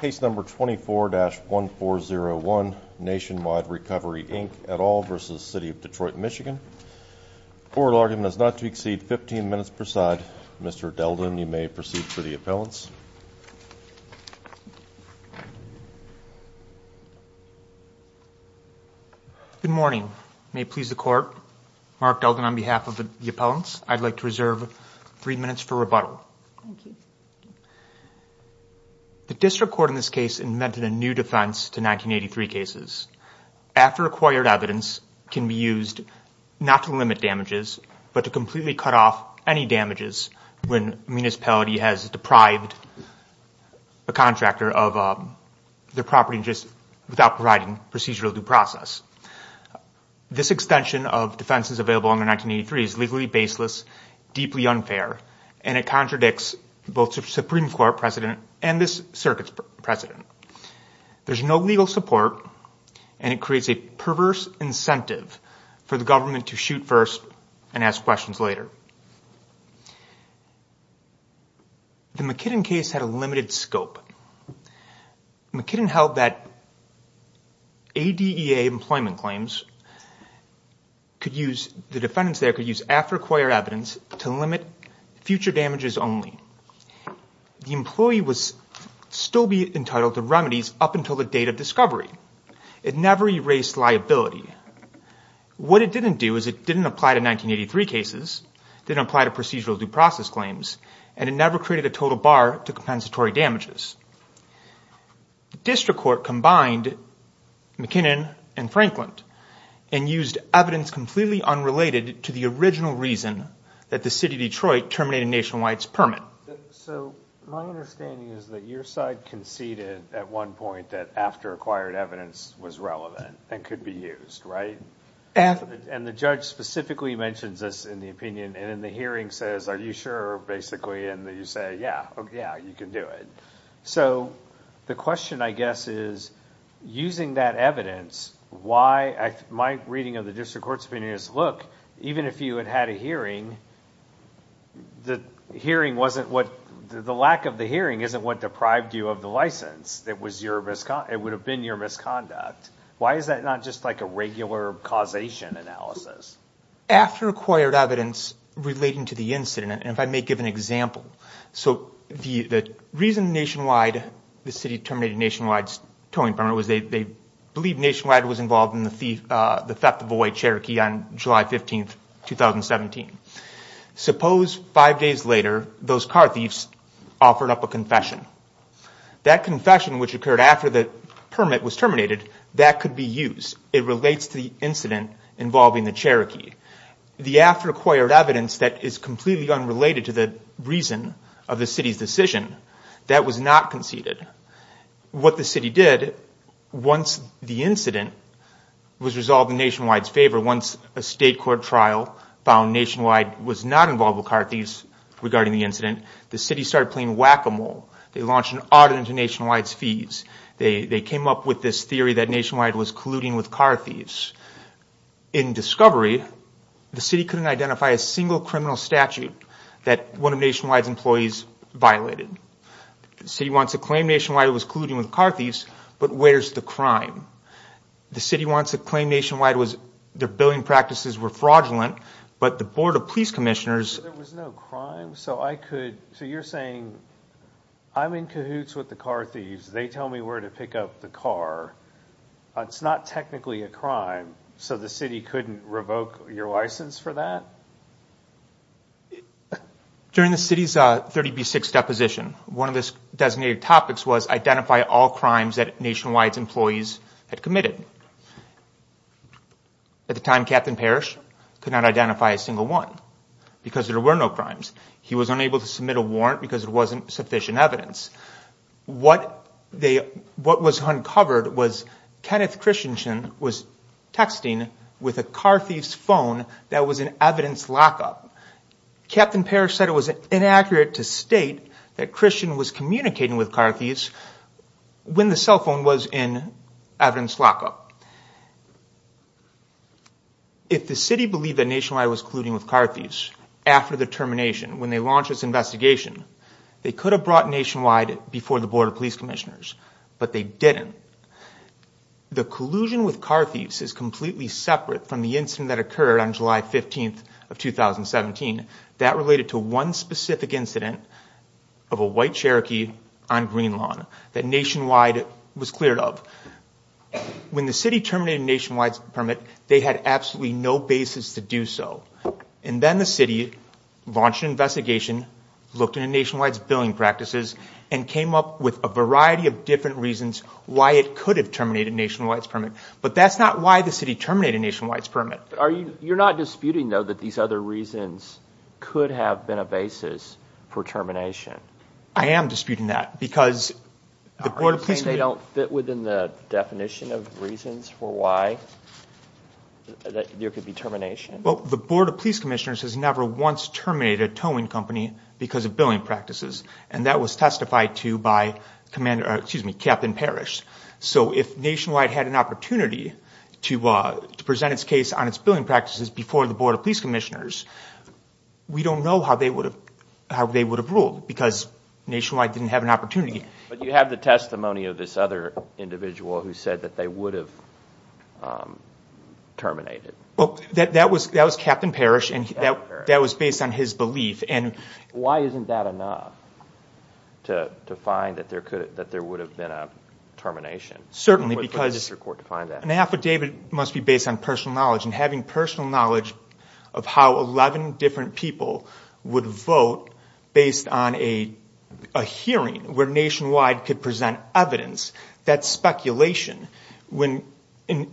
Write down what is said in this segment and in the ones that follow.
Case number 24-1401, Nationwide Recovery Inc et al. v. City of Detroit MI Court argument is not to exceed 15 minutes per side. Mr. Delden, you may proceed for the appellants. Good morning. May it please the court, Mark Delden on behalf of the appellants, I'd like to reserve 3 minutes for rebuttal. Thank you. The district court in this case invented a new defense to 1983 cases. After acquired evidence can be used not to limit damages, but to completely cut off any damages when a municipality has deprived a contractor of their property without providing procedural due process. This extension of defenses available under 1983 is legally baseless, deeply unfair, and it contradicts both the Supreme Court precedent and this circuit's precedent. There's no legal support and it creates a perverse incentive for the government to shoot first and ask questions later. The McKinnon case had a limited scope. McKinnon held that ADEA employment claims could use, the defendants there could use after acquired evidence to limit future damages only. The employee was still entitled to remedies up until the date of discovery. It never erased liability. What it didn't do is it didn't apply to 1983 cases, didn't apply to procedural due process claims, and it never created a total bar to compensatory damages. The district court combined McKinnon and Franklin and used evidence completely unrelated to the original reason that the city of Detroit terminated Nationwide's permit. So my understanding is that your side conceded at one point that after acquired evidence was relevant and could be used, right? And the judge specifically mentions this in the opinion and in the hearing says, are you sure, basically, and you say, yeah, yeah, you can do it. So the question, I guess, is using that evidence, my reading of the district court's opinion is, look, even if you had had a hearing, the lack of the hearing isn't what deprived you of the license. It would have been your misconduct. Why is that not just like a regular causation analysis? After acquired evidence relating to the incident, and if I may give an example, so the reason Nationwide, the city terminated Nationwide's towing permit was they believed Nationwide was involved in the theft of a white Cherokee on July 15, 2017. Suppose five days later, those car thieves offered up a confession. That confession, which occurred after the permit was terminated, that relates to the incident involving the Cherokee. The after acquired evidence that is completely unrelated to the reason of the city's decision, that was not conceded. What the city did, once the incident was resolved in Nationwide's favor, once a state court trial found Nationwide was not involved with car thieves regarding the incident, the city started playing whack-a-mole. They launched an audit into Nationwide's fees. They came up with this theory that Nationwide was colluding with car thieves. In discovery, the city couldn't identify a single criminal statute that one of Nationwide's employees violated. The city wants to claim Nationwide was colluding with car thieves, but where's the crime? The city wants to claim Nationwide was, their billing practices were fraudulent, but the board of police commissioners There was no crime? So you're saying, I'm in cahoots with the car thieves, they tell me where to pick up the car, it's not technically a crime, so the city couldn't revoke your license for that? During the city's 30B6 deposition, one of the designated topics was identify all crimes that Nationwide's employees had committed. At the time, Captain Parrish could not identify a single one because there were no crimes. He was unable to submit a warrant because there wasn't sufficient evidence. What was uncovered was Kenneth Christensen was texting with a car thief's phone that was in evidence lock-up. Captain Parrish said it was inaccurate to state that Christian was communicating with car thieves when the cell phone was in evidence lock-up. If the city believed that Nationwide was colluding with car thieves after the termination, when they launched this investigation, they could have brought Nationwide before the board of police commissioners, but they didn't. The collusion with car thieves is completely separate from the incident that occurred on July 15th of 2017. That related to one specific incident of a white Cherokee on Green Lawn that Nationwide was cleared of. When the city terminated Nationwide's permit, they had absolutely no basis to do so. And then the city launched an investigation, looked into Nationwide's billing practices, and came up with a variety of different reasons why it could have terminated Nationwide's permit. But that's not why the city terminated Nationwide's permit. You're not disputing, though, that these other reasons could have been a basis for termination? I am disputing that. Are you saying they don't fit within the definition of reasons for why there could be termination? The board of police commissioners has never once terminated a towing company because of billing practices, and that was testified to by Captain Parrish. So if Nationwide had an opportunity to present its case on its billing practices before the board of police commissioners, we don't know how they would have ruled, because Nationwide didn't have an opportunity. But you have the testimony of this other individual who said that they would have terminated. That was Captain Parrish, and that was based on his belief. Why isn't that enough to find that there would have been a termination? Certainly, because an affidavit must be based on personal knowledge. And having personal knowledge of how 11 different people would vote based on a hearing where Nationwide could present evidence, that's speculation.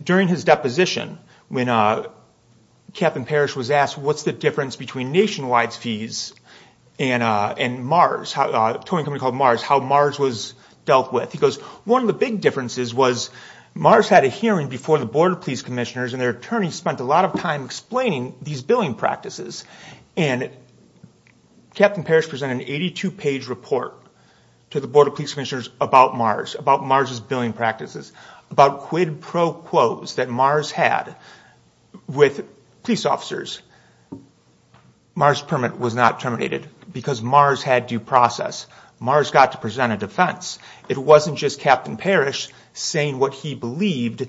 During his deposition, when Captain Parrish was asked what's the difference between Nationwide's fees and Mars, a towing company called Mars, how Mars was dealt with, he goes, one of the big differences was Mars had a hearing before the board of police commissioners, and their attorney spent a lot of time explaining these billing practices. And Captain Parrish presented an 82-page report to the board of police commissioners about Mars, about Mars' billing practices, about quid pro quos that Mars had with police officers. Mars' permit was not terminated because Mars had due process. Mars got to present a defense. It wasn't just Captain Parrish saying what he believed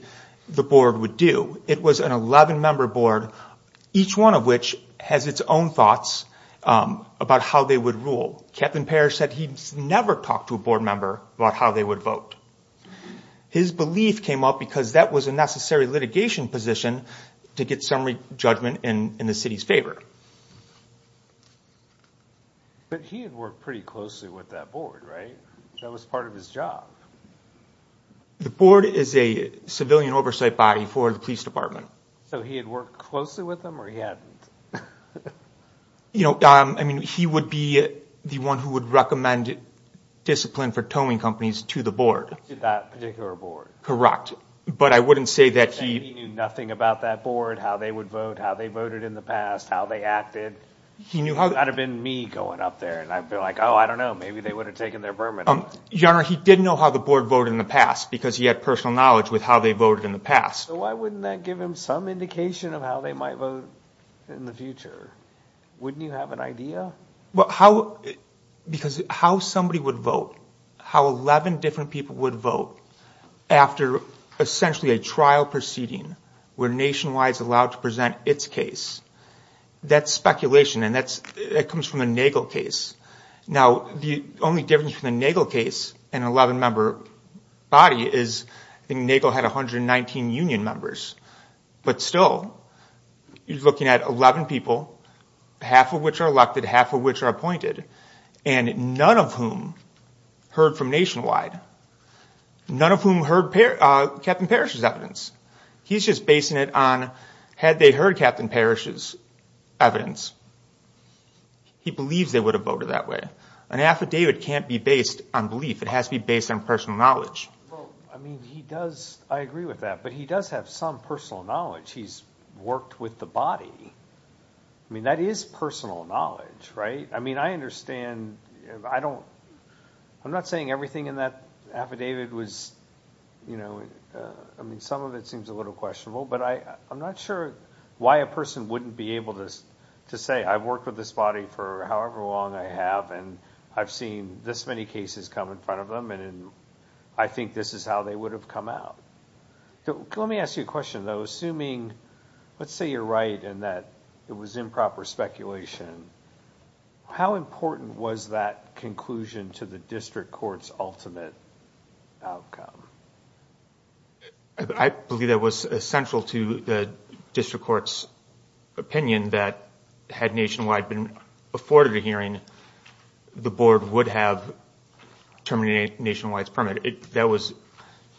the board would do. It was an 11-member board, each one of which has its own thoughts about how they would rule. Captain Parrish said he never talked to a board member about how they would vote. His belief came up because that was a necessary litigation position to get summary judgment in the city's favor. But he had worked pretty closely with that board, right? That was part of his job. The board is a civilian oversight body for the police department. So he had worked closely with them, or he hadn't? You know, I mean, he would be the one who would recommend discipline for towing companies to the board. To that particular board. Correct. But I wouldn't say that he... He knew nothing about that board, how they would vote, how they voted in the past, how they acted. It would not have been me going up there, and I'd be like, oh, I don't know, maybe they would have taken their permit off. Your Honor, he did know how the board voted in the past, because he had personal knowledge with how they voted in the past. So why wouldn't that give him some indication of how they might vote in the future? Wouldn't you have an idea? Because how somebody would vote, how 11 different people would vote, after essentially a trial proceeding where Nationwide is allowed to present its case, that's speculation, and that comes from a Nagel case. Now, the only difference from the Nagel case, an 11-member body, is I think Nagel had 119 union members. But still, you're looking at 11 people, half of which are elected, half of which are appointed, and none of whom heard from Nationwide, none of whom heard Captain Parrish's evidence. He's just basing it on had they heard Captain Parrish's evidence, he believes they would have voted that way. An affidavit can't be based on belief, it has to be based on personal knowledge. Well, I mean, he does, I agree with that, but he does have some personal knowledge. He's worked with the body. I mean, that is personal knowledge, right? I mean, I understand, I don't, I'm not saying everything in that affidavit was, you know, I mean, some of it seems a little questionable, but I'm not sure why a person wouldn't be able to say, I've worked with this body for however long I have, and I've seen this many cases come in front of them, and I think this is how they would have come out. Let me ask you a question, though. Assuming, let's say you're right in that it was improper speculation, how important was that conclusion to the district court's ultimate outcome? I believe that was essential to the district court's opinion that had Nationwide been afforded a hearing, the board would have terminated Nationwide's permit. That was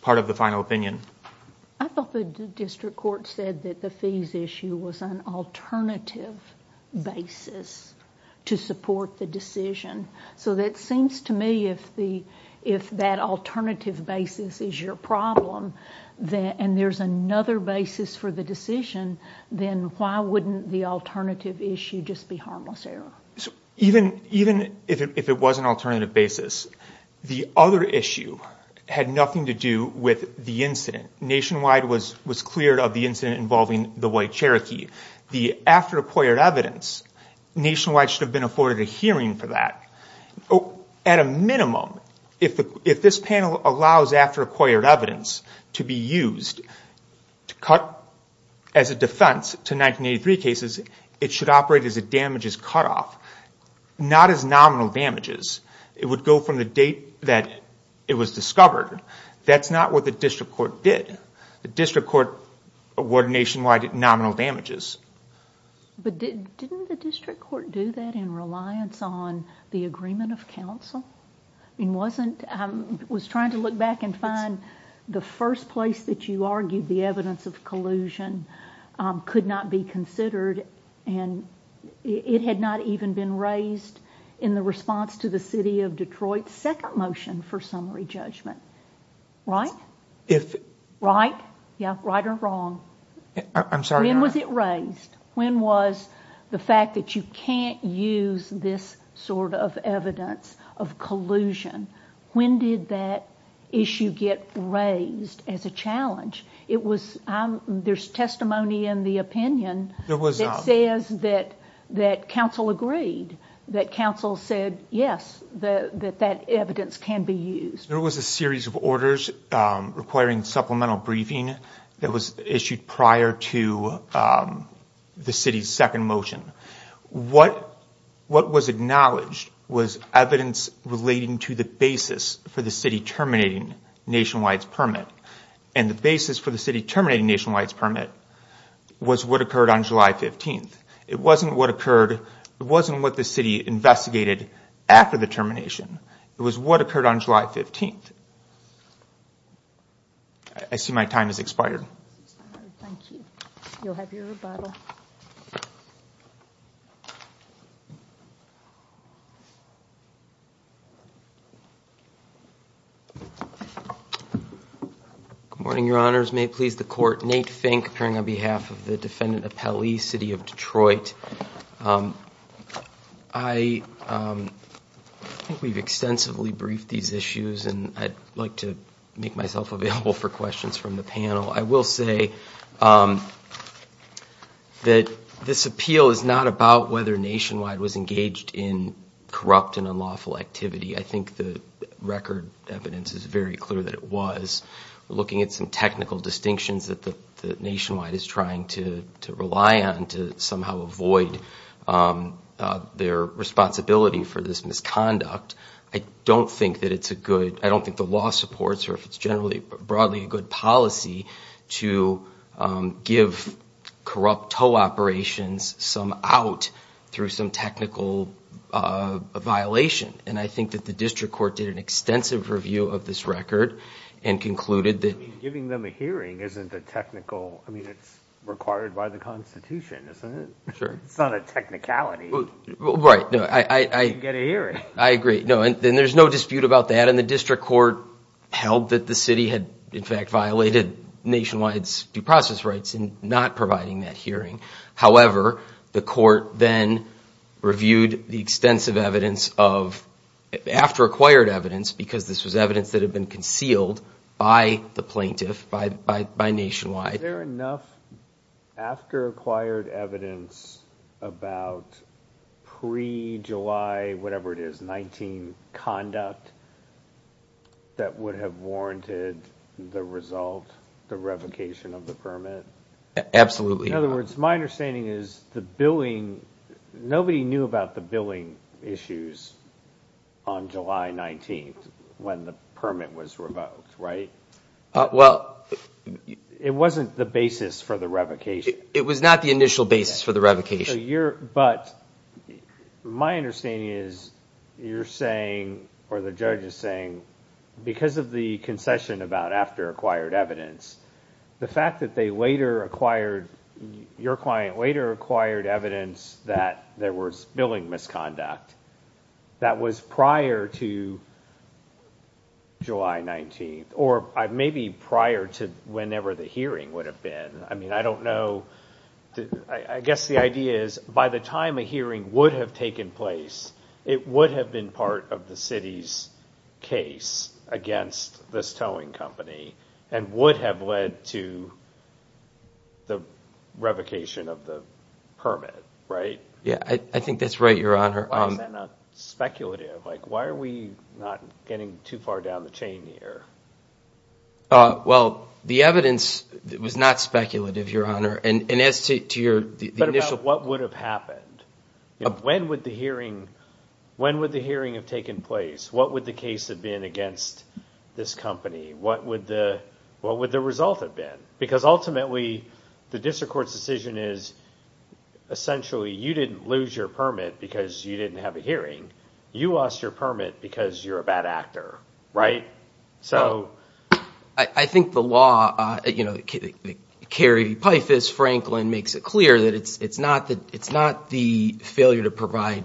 part of the final opinion. I thought the district court said that the fees issue was an alternative basis to support the decision. So it seems to me if that alternative basis is your problem and there's another basis for the decision, then why wouldn't the alternative issue just be harmless error? Even if it was an alternative basis, the other issue had nothing to do with the incident. Nationwide was clear of the incident involving the white Cherokee. After acquired evidence, Nationwide should have been afforded a hearing for that. At a minimum, if this panel allows after acquired evidence to be used to cut as a defense to 1983 cases, it should operate as a damages cutoff, not as nominal damages. It would go from the date that it was discovered. That's not what the district court did. The district court awarded Nationwide nominal damages. Didn't the district court do that in reliance on the agreement of counsel? I was trying to look back and find the first place that you argued the evidence of collusion could not be considered. It had not even been raised in the response to the city of Detroit's second motion for summary judgment. Right? Right? Yeah. Right or wrong? I'm sorry. When was it raised? When was the fact that you can't use this sort of evidence of collusion, when did that issue get raised as a challenge? There's testimony in the opinion that says that counsel agreed, that counsel said yes, that that evidence can be used. There was a series of orders requiring supplemental briefing that was issued prior to the city's second motion. What was acknowledged was evidence relating to the basis for the city terminating Nationwide's permit, and the basis for the city terminating Nationwide's permit was what occurred on July 15th. It wasn't what the city investigated after the termination. It was what occurred on July 15th. I see my time has expired. Thank you. You'll have your rebuttal. Good morning, Your Honors. May it please the Court. Nate Fink appearing on behalf of the defendant Appelli, city of Detroit. I think we've extensively briefed these issues, and I'd like to make myself available for questions from the panel. I will say that this appeal is not about whether Nationwide was engaged in corrupt and unlawful activity. I think the record evidence is very clear that it was. We're looking at some technical distinctions that Nationwide is trying to rely on to somehow avoid their responsibility for this misconduct. I don't think that it's a good, I don't think the law supports, or if it's generally broadly a good policy, to give corrupt toe operations some out through some technical violation. And I think that the district court did an extensive review of this record and concluded that. Giving them a hearing isn't a technical, I mean, it's required by the Constitution, isn't it? Sure. It's not a technicality. Right. You can get a hearing. I agree. No, and there's no dispute about that. And the district court held that the city had, in fact, violated Nationwide's due process rights in not providing that hearing. However, the court then reviewed the extensive evidence of, after acquired evidence, because this was evidence that had been concealed by the plaintiff, by Nationwide. Is there enough after acquired evidence about pre-July, whatever it is, 19 conduct that would have warranted the result, the revocation of the permit? Absolutely not. In other words, my understanding is the billing, nobody knew about the billing issues on July 19th when the permit was revoked, right? Well, it wasn't the basis for the revocation. It was not the initial basis for the revocation. But my understanding is you're saying, or the judge is saying, because of the concession about after acquired evidence, the fact that they later acquired, your client later acquired evidence that there was billing misconduct that was prior to July 19th, or maybe prior to whenever the hearing would have been. I mean, I don't know. I guess the idea is by the time a hearing would have taken place, it would have been part of the city's case against this towing company and would have led to the revocation of the permit, right? Yeah, I think that's right, Your Honor. Why is that not speculative? Like why are we not getting too far down the chain here? Well, the evidence was not speculative, Your Honor. And as to your initial- But about what would have happened. When would the hearing have taken place? What would the case have been against this company? What would the result have been? Because ultimately, the district court's decision is, essentially, you didn't lose your permit because you didn't have a hearing. You lost your permit because you're a bad actor, right? So I think the law, you know, Kerry Pythas Franklin makes it clear that it's not the failure to provide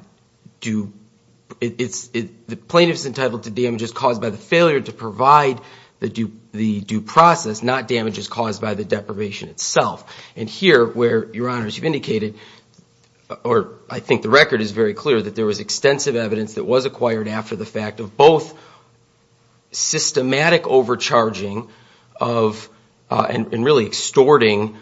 due – the plaintiff is entitled to damages caused by the failure to provide the due process, not damages caused by the deprivation itself. And here, where, Your Honor, as you've indicated, or I think the record is very clear, that there was extensive evidence that was acquired after the fact of both systematic overcharging of – and really extorting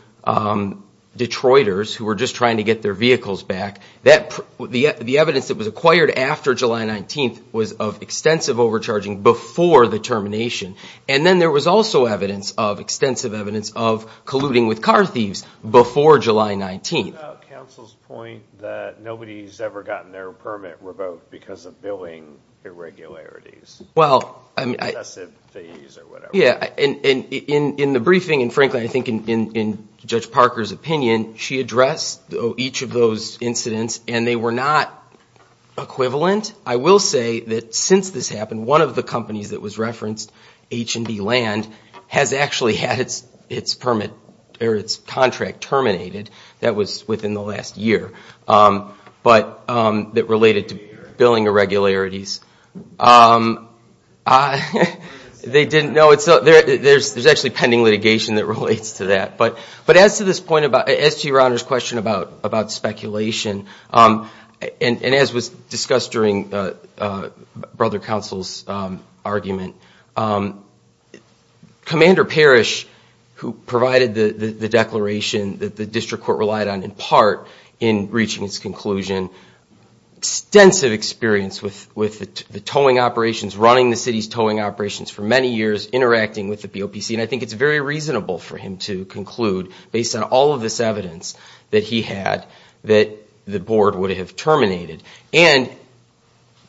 Detroiters who were just trying to get their vehicles back. The evidence that was acquired after July 19th was of extensive overcharging before the termination. And then there was also evidence, extensive evidence, of colluding with car thieves before July 19th. What about counsel's point that nobody's ever gotten their permit revoked because of billing irregularities? Well, I mean – Excessive fees or whatever. Yeah, and in the briefing, and frankly, I think in Judge Parker's opinion, she addressed each of those incidents, and they were not equivalent. I will say that since this happened, one of the companies that was referenced, H&B Land, has actually had its permit or its contract terminated. That was within the last year. But that related to billing irregularities. They didn't – no, there's actually pending litigation that relates to that. But as to this point about – as to Your Honor's question about speculation, and as was discussed during Brother Counsel's argument, Commander Parrish, who provided the declaration that the district court relied on, in part, in reaching its conclusion, extensive experience with the towing operations, running the city's towing operations for many years, interacting with the BOPC. And I think it's very reasonable for him to conclude, based on all of this evidence that he had, that the board would have terminated. And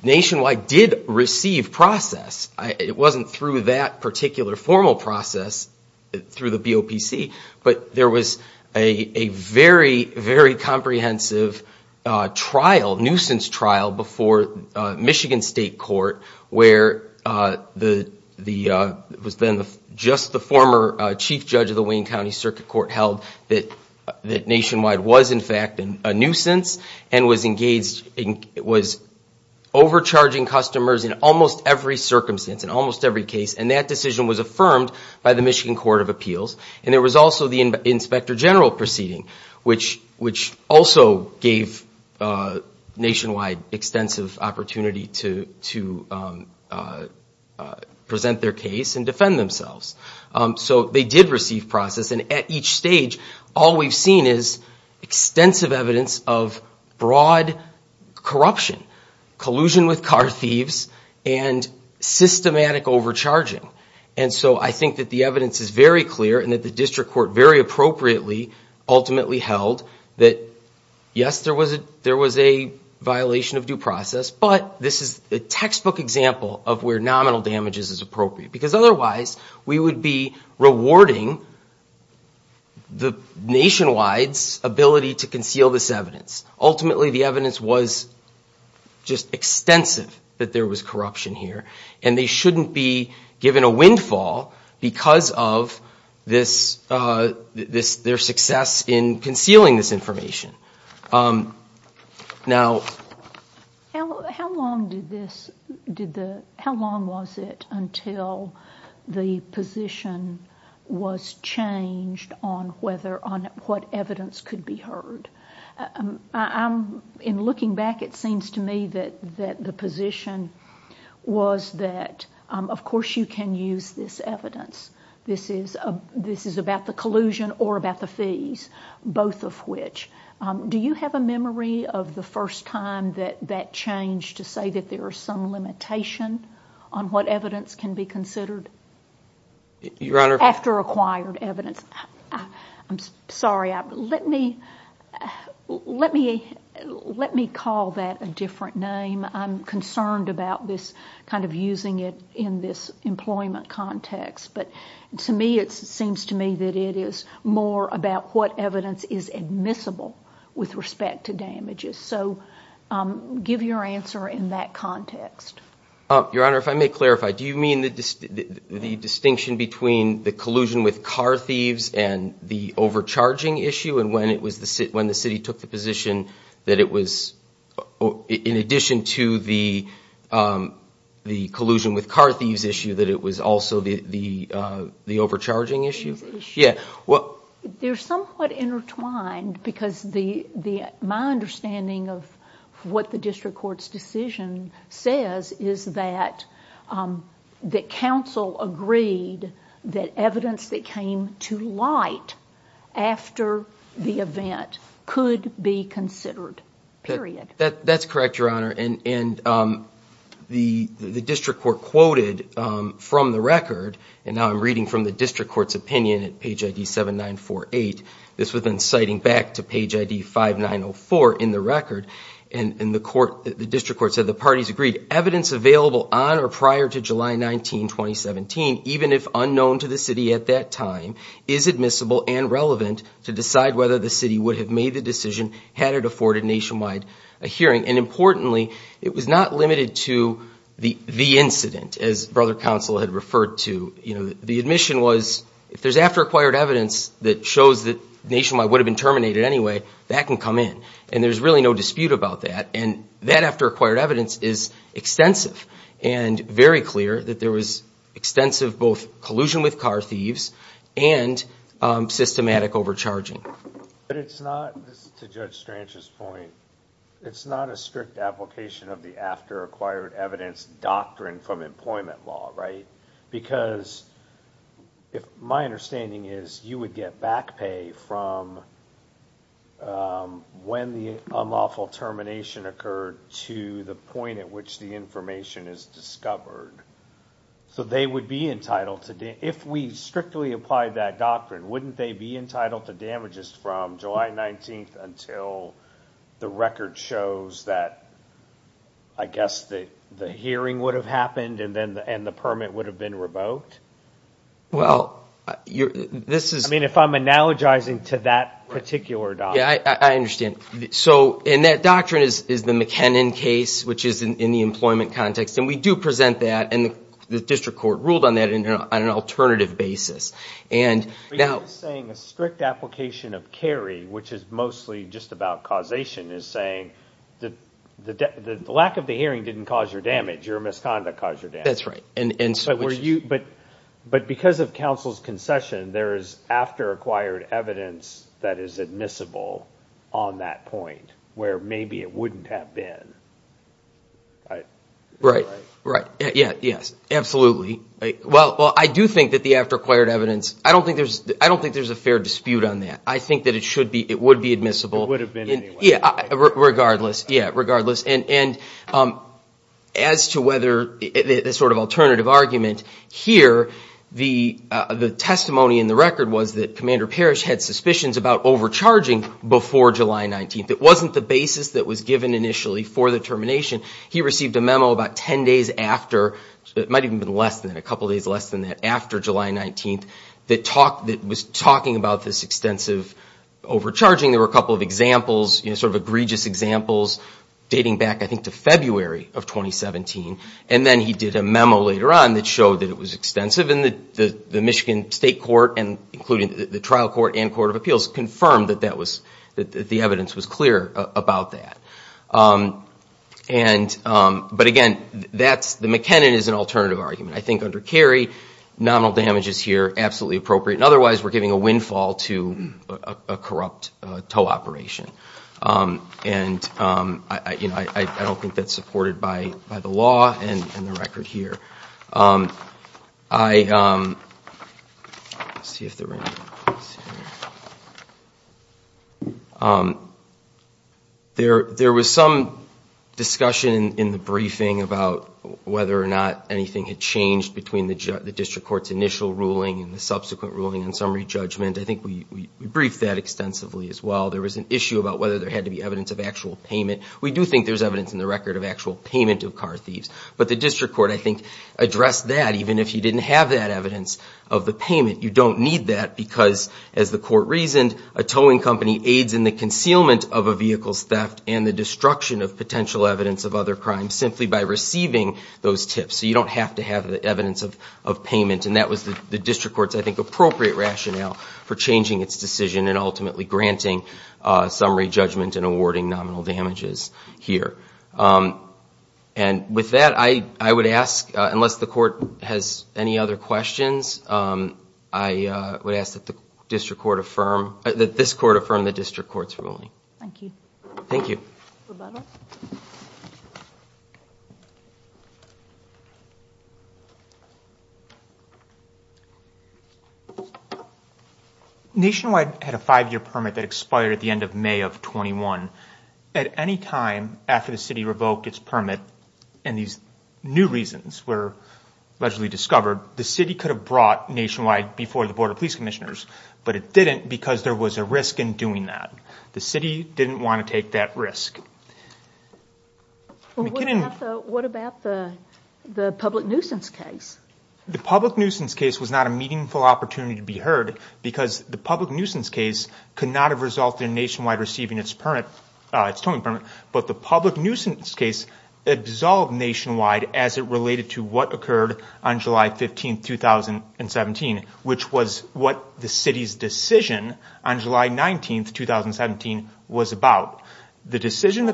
Nationwide did receive process. It wasn't through that particular formal process through the BOPC, but there was a very, very comprehensive trial, nuisance trial before Michigan State Court, where the – it was then just the former chief judge of the Wayne County Circuit Court held that Nationwide was, in fact, a nuisance and was engaged in – was overcharging customers in almost every circumstance, in almost every case. And that decision was affirmed by the Michigan Court of Appeals. And there was also the Inspector General proceeding, which also gave Nationwide extensive opportunity to present their case and defend themselves. So they did receive process. And at each stage, all we've seen is extensive evidence of broad corruption, collusion with car thieves, and systematic overcharging. And so I think that the evidence is very clear, and that the district court very appropriately ultimately held that, yes, there was a violation of due process, but this is a textbook example of where nominal damages is appropriate. Because otherwise, we would be rewarding Nationwide's ability to conceal this evidence. Ultimately, the evidence was just extensive that there was corruption here. And they shouldn't be given a windfall because of this – their success in concealing this information. Now – How long did this – did the – how long was it until the position was changed on whether – on what evidence could be heard? I'm – in looking back, it seems to me that the position was that, of course, you can use this evidence. This is about the collusion or about the fees, both of which. Do you have a memory of the first time that that changed to say that there is some limitation on what evidence can be considered? Your Honor – After acquired evidence. I'm sorry. Let me – let me call that a different name. I'm concerned about this kind of using it in this employment context. But to me, it seems to me that it is more about what evidence is admissible with respect to damages. So give your answer in that context. Your Honor, if I may clarify, do you mean the distinction between the collusion with car thieves and the overcharging issue? And when it was – when the city took the position that it was – in addition to the collusion with car thieves issue, that it was also the overcharging issue? Yeah. They're somewhat intertwined because the – my understanding of what the district court's decision says is that – that counsel agreed that evidence that came to light after the event could be considered, period. That's correct, Your Honor. And the district court quoted from the record – and now I'm reading from the district court's opinion at page ID 7948. This was then citing back to page ID 5904 in the record. And the court – the district court said the parties agreed, evidence available on or prior to July 19, 2017, even if unknown to the city at that time, is admissible and relevant to decide whether the city would have made the decision had it afforded nationwide a hearing. And importantly, it was not limited to the incident, as Brother Counsel had referred to. You know, the admission was if there's after-acquired evidence that shows that nationwide would have been terminated anyway, that can come in. And there's really no dispute about that. And that after-acquired evidence is extensive and very clear that there was extensive both collusion with car thieves and systematic overcharging. But it's not – this is to Judge Stranch's point – it's not a strict application of the after-acquired evidence doctrine from employment law, right? Because my understanding is you would get back pay from when the unlawful termination occurred to the point at which the information is discovered. So they would be entitled to – if we strictly applied that doctrine, wouldn't they be entitled to damages from July 19 until the record shows that, I guess, the hearing would have happened and the permit would have been revoked? Well, this is – I mean, if I'm analogizing to that particular doctrine. Yeah, I understand. So – and that doctrine is the McKinnon case, which is in the employment context. And we do present that, and the district court ruled on that on an alternative basis. But you're saying a strict application of Cary, which is mostly just about causation, is saying the lack of the hearing didn't cause your damage. Your misconduct caused your damage. That's right. But because of counsel's concession, there is after-acquired evidence that is admissible on that point where maybe it wouldn't have been, right? Right, right. Yeah, yes, absolutely. Well, I do think that the after-acquired evidence – I don't think there's a fair dispute on that. I think that it should be – it would be admissible. It would have been anyway. Yeah, regardless. Yeah, regardless. And as to whether – the sort of alternative argument here, the testimony in the record was that Commander Parrish had suspicions about overcharging before July 19th. It wasn't the basis that was given initially for the termination. He received a memo about 10 days after – it might have even been less than that, a couple days less than that – after July 19th that was talking about this extensive overcharging. There were a couple of examples, sort of egregious examples, dating back I think to February of 2017. And then he did a memo later on that showed that it was extensive. And the Michigan State Court, including the Trial Court and Court of Appeals, confirmed that the evidence was clear about that. But again, the McKinnon is an alternative argument. I think under Kerry, nominal damage is here absolutely appropriate. And otherwise, we're giving a windfall to a corrupt tow operation. And I don't think that's supported by the law and the record here. I – let's see if they're in here. There was some discussion in the briefing about whether or not anything had changed between the district court's initial ruling and the subsequent ruling and summary judgment. I think we briefed that extensively as well. There was an issue about whether there had to be evidence of actual payment. We do think there's evidence in the record of actual payment of car thieves. But the district court, I think, addressed that even if you didn't have that evidence of the payment. You don't need that because, as the court reasoned, a towing company aids in the concealment of a vehicle's theft and the destruction of potential evidence of other crimes simply by receiving those tips. So you don't have to have the evidence of payment. And that was the district court's, I think, appropriate rationale for changing its decision and ultimately granting summary judgment and awarding nominal damages here. And with that, I would ask, unless the court has any other questions, I would ask that the district court affirm – that this court affirm the district court's ruling. Thank you. Thank you. Nationwide had a five-year permit that expired at the end of May of 21. At any time after the city revoked its permit and these new reasons were allegedly discovered, the city could have brought Nationwide before the Board of Police Commissioners, but it didn't because there was a risk in doing that. The city didn't want to take that risk. What about the public nuisance case? The public nuisance case was not a meaningful opportunity to be heard because the public nuisance case could not have resulted in Nationwide receiving its towing permit, but the public nuisance case absolved Nationwide as it related to what occurred on July 15, 2017, which was what the city's decision on July 19, 2017, was about. The decision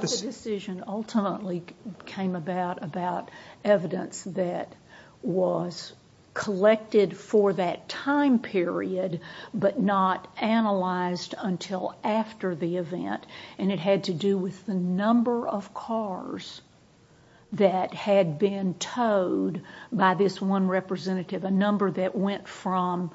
ultimately came about about evidence that was collected for that time period but not analyzed until after the event, and it had to do with the number of cars that had been towed by this one representative, a number that went from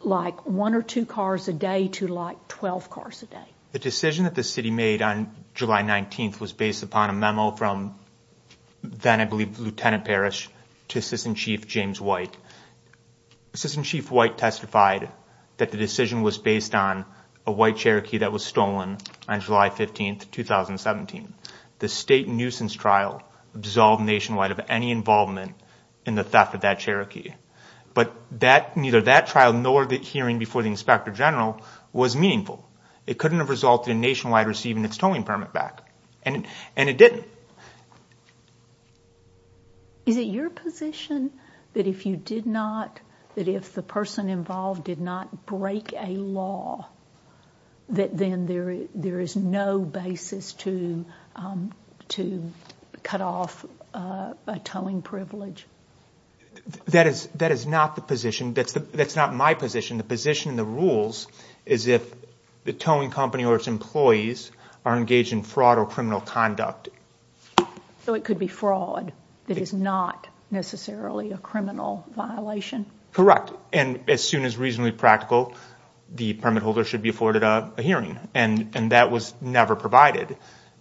like one or two cars a day to like 12 cars a day. The decision that the city made on July 19 was based upon a memo from then, I believe, Lieutenant Parrish to Assistant Chief James White. Assistant Chief White testified that the decision was based on a white Cherokee that was stolen on July 15, 2017. The state nuisance trial absolved Nationwide of any involvement in the theft of that Cherokee, but neither that trial nor the hearing before the Inspector General was meaningful. It couldn't have resulted in Nationwide receiving its towing permit back, and it didn't. Is it your position that if the person involved did not break a law, that then there is no basis to cut off a towing privilege? That is not my position. The position in the rules is if the towing company or its employees are engaged in fraud or criminal conduct. So it could be fraud that is not necessarily a criminal violation? Correct. As soon as reasonably practical, the permit holder should be afforded a hearing, and that was never provided.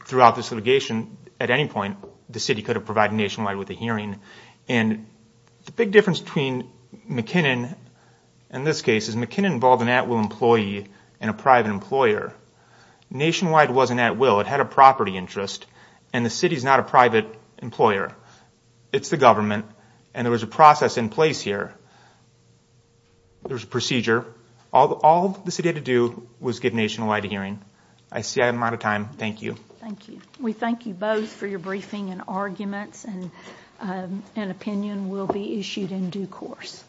Throughout this litigation, at any point, the city could have provided Nationwide with a hearing. The big difference between McKinnon and this case is McKinnon involved an at-will employee and a private employer. Nationwide wasn't at-will. It had a property interest, and the city is not a private employer. It's the government, and there was a process in place here. There was a procedure. All the city had to do was give Nationwide a hearing. I see I'm out of time. Thank you. Thank you. We thank you both for your briefing and arguments, and an opinion will be issued in due course.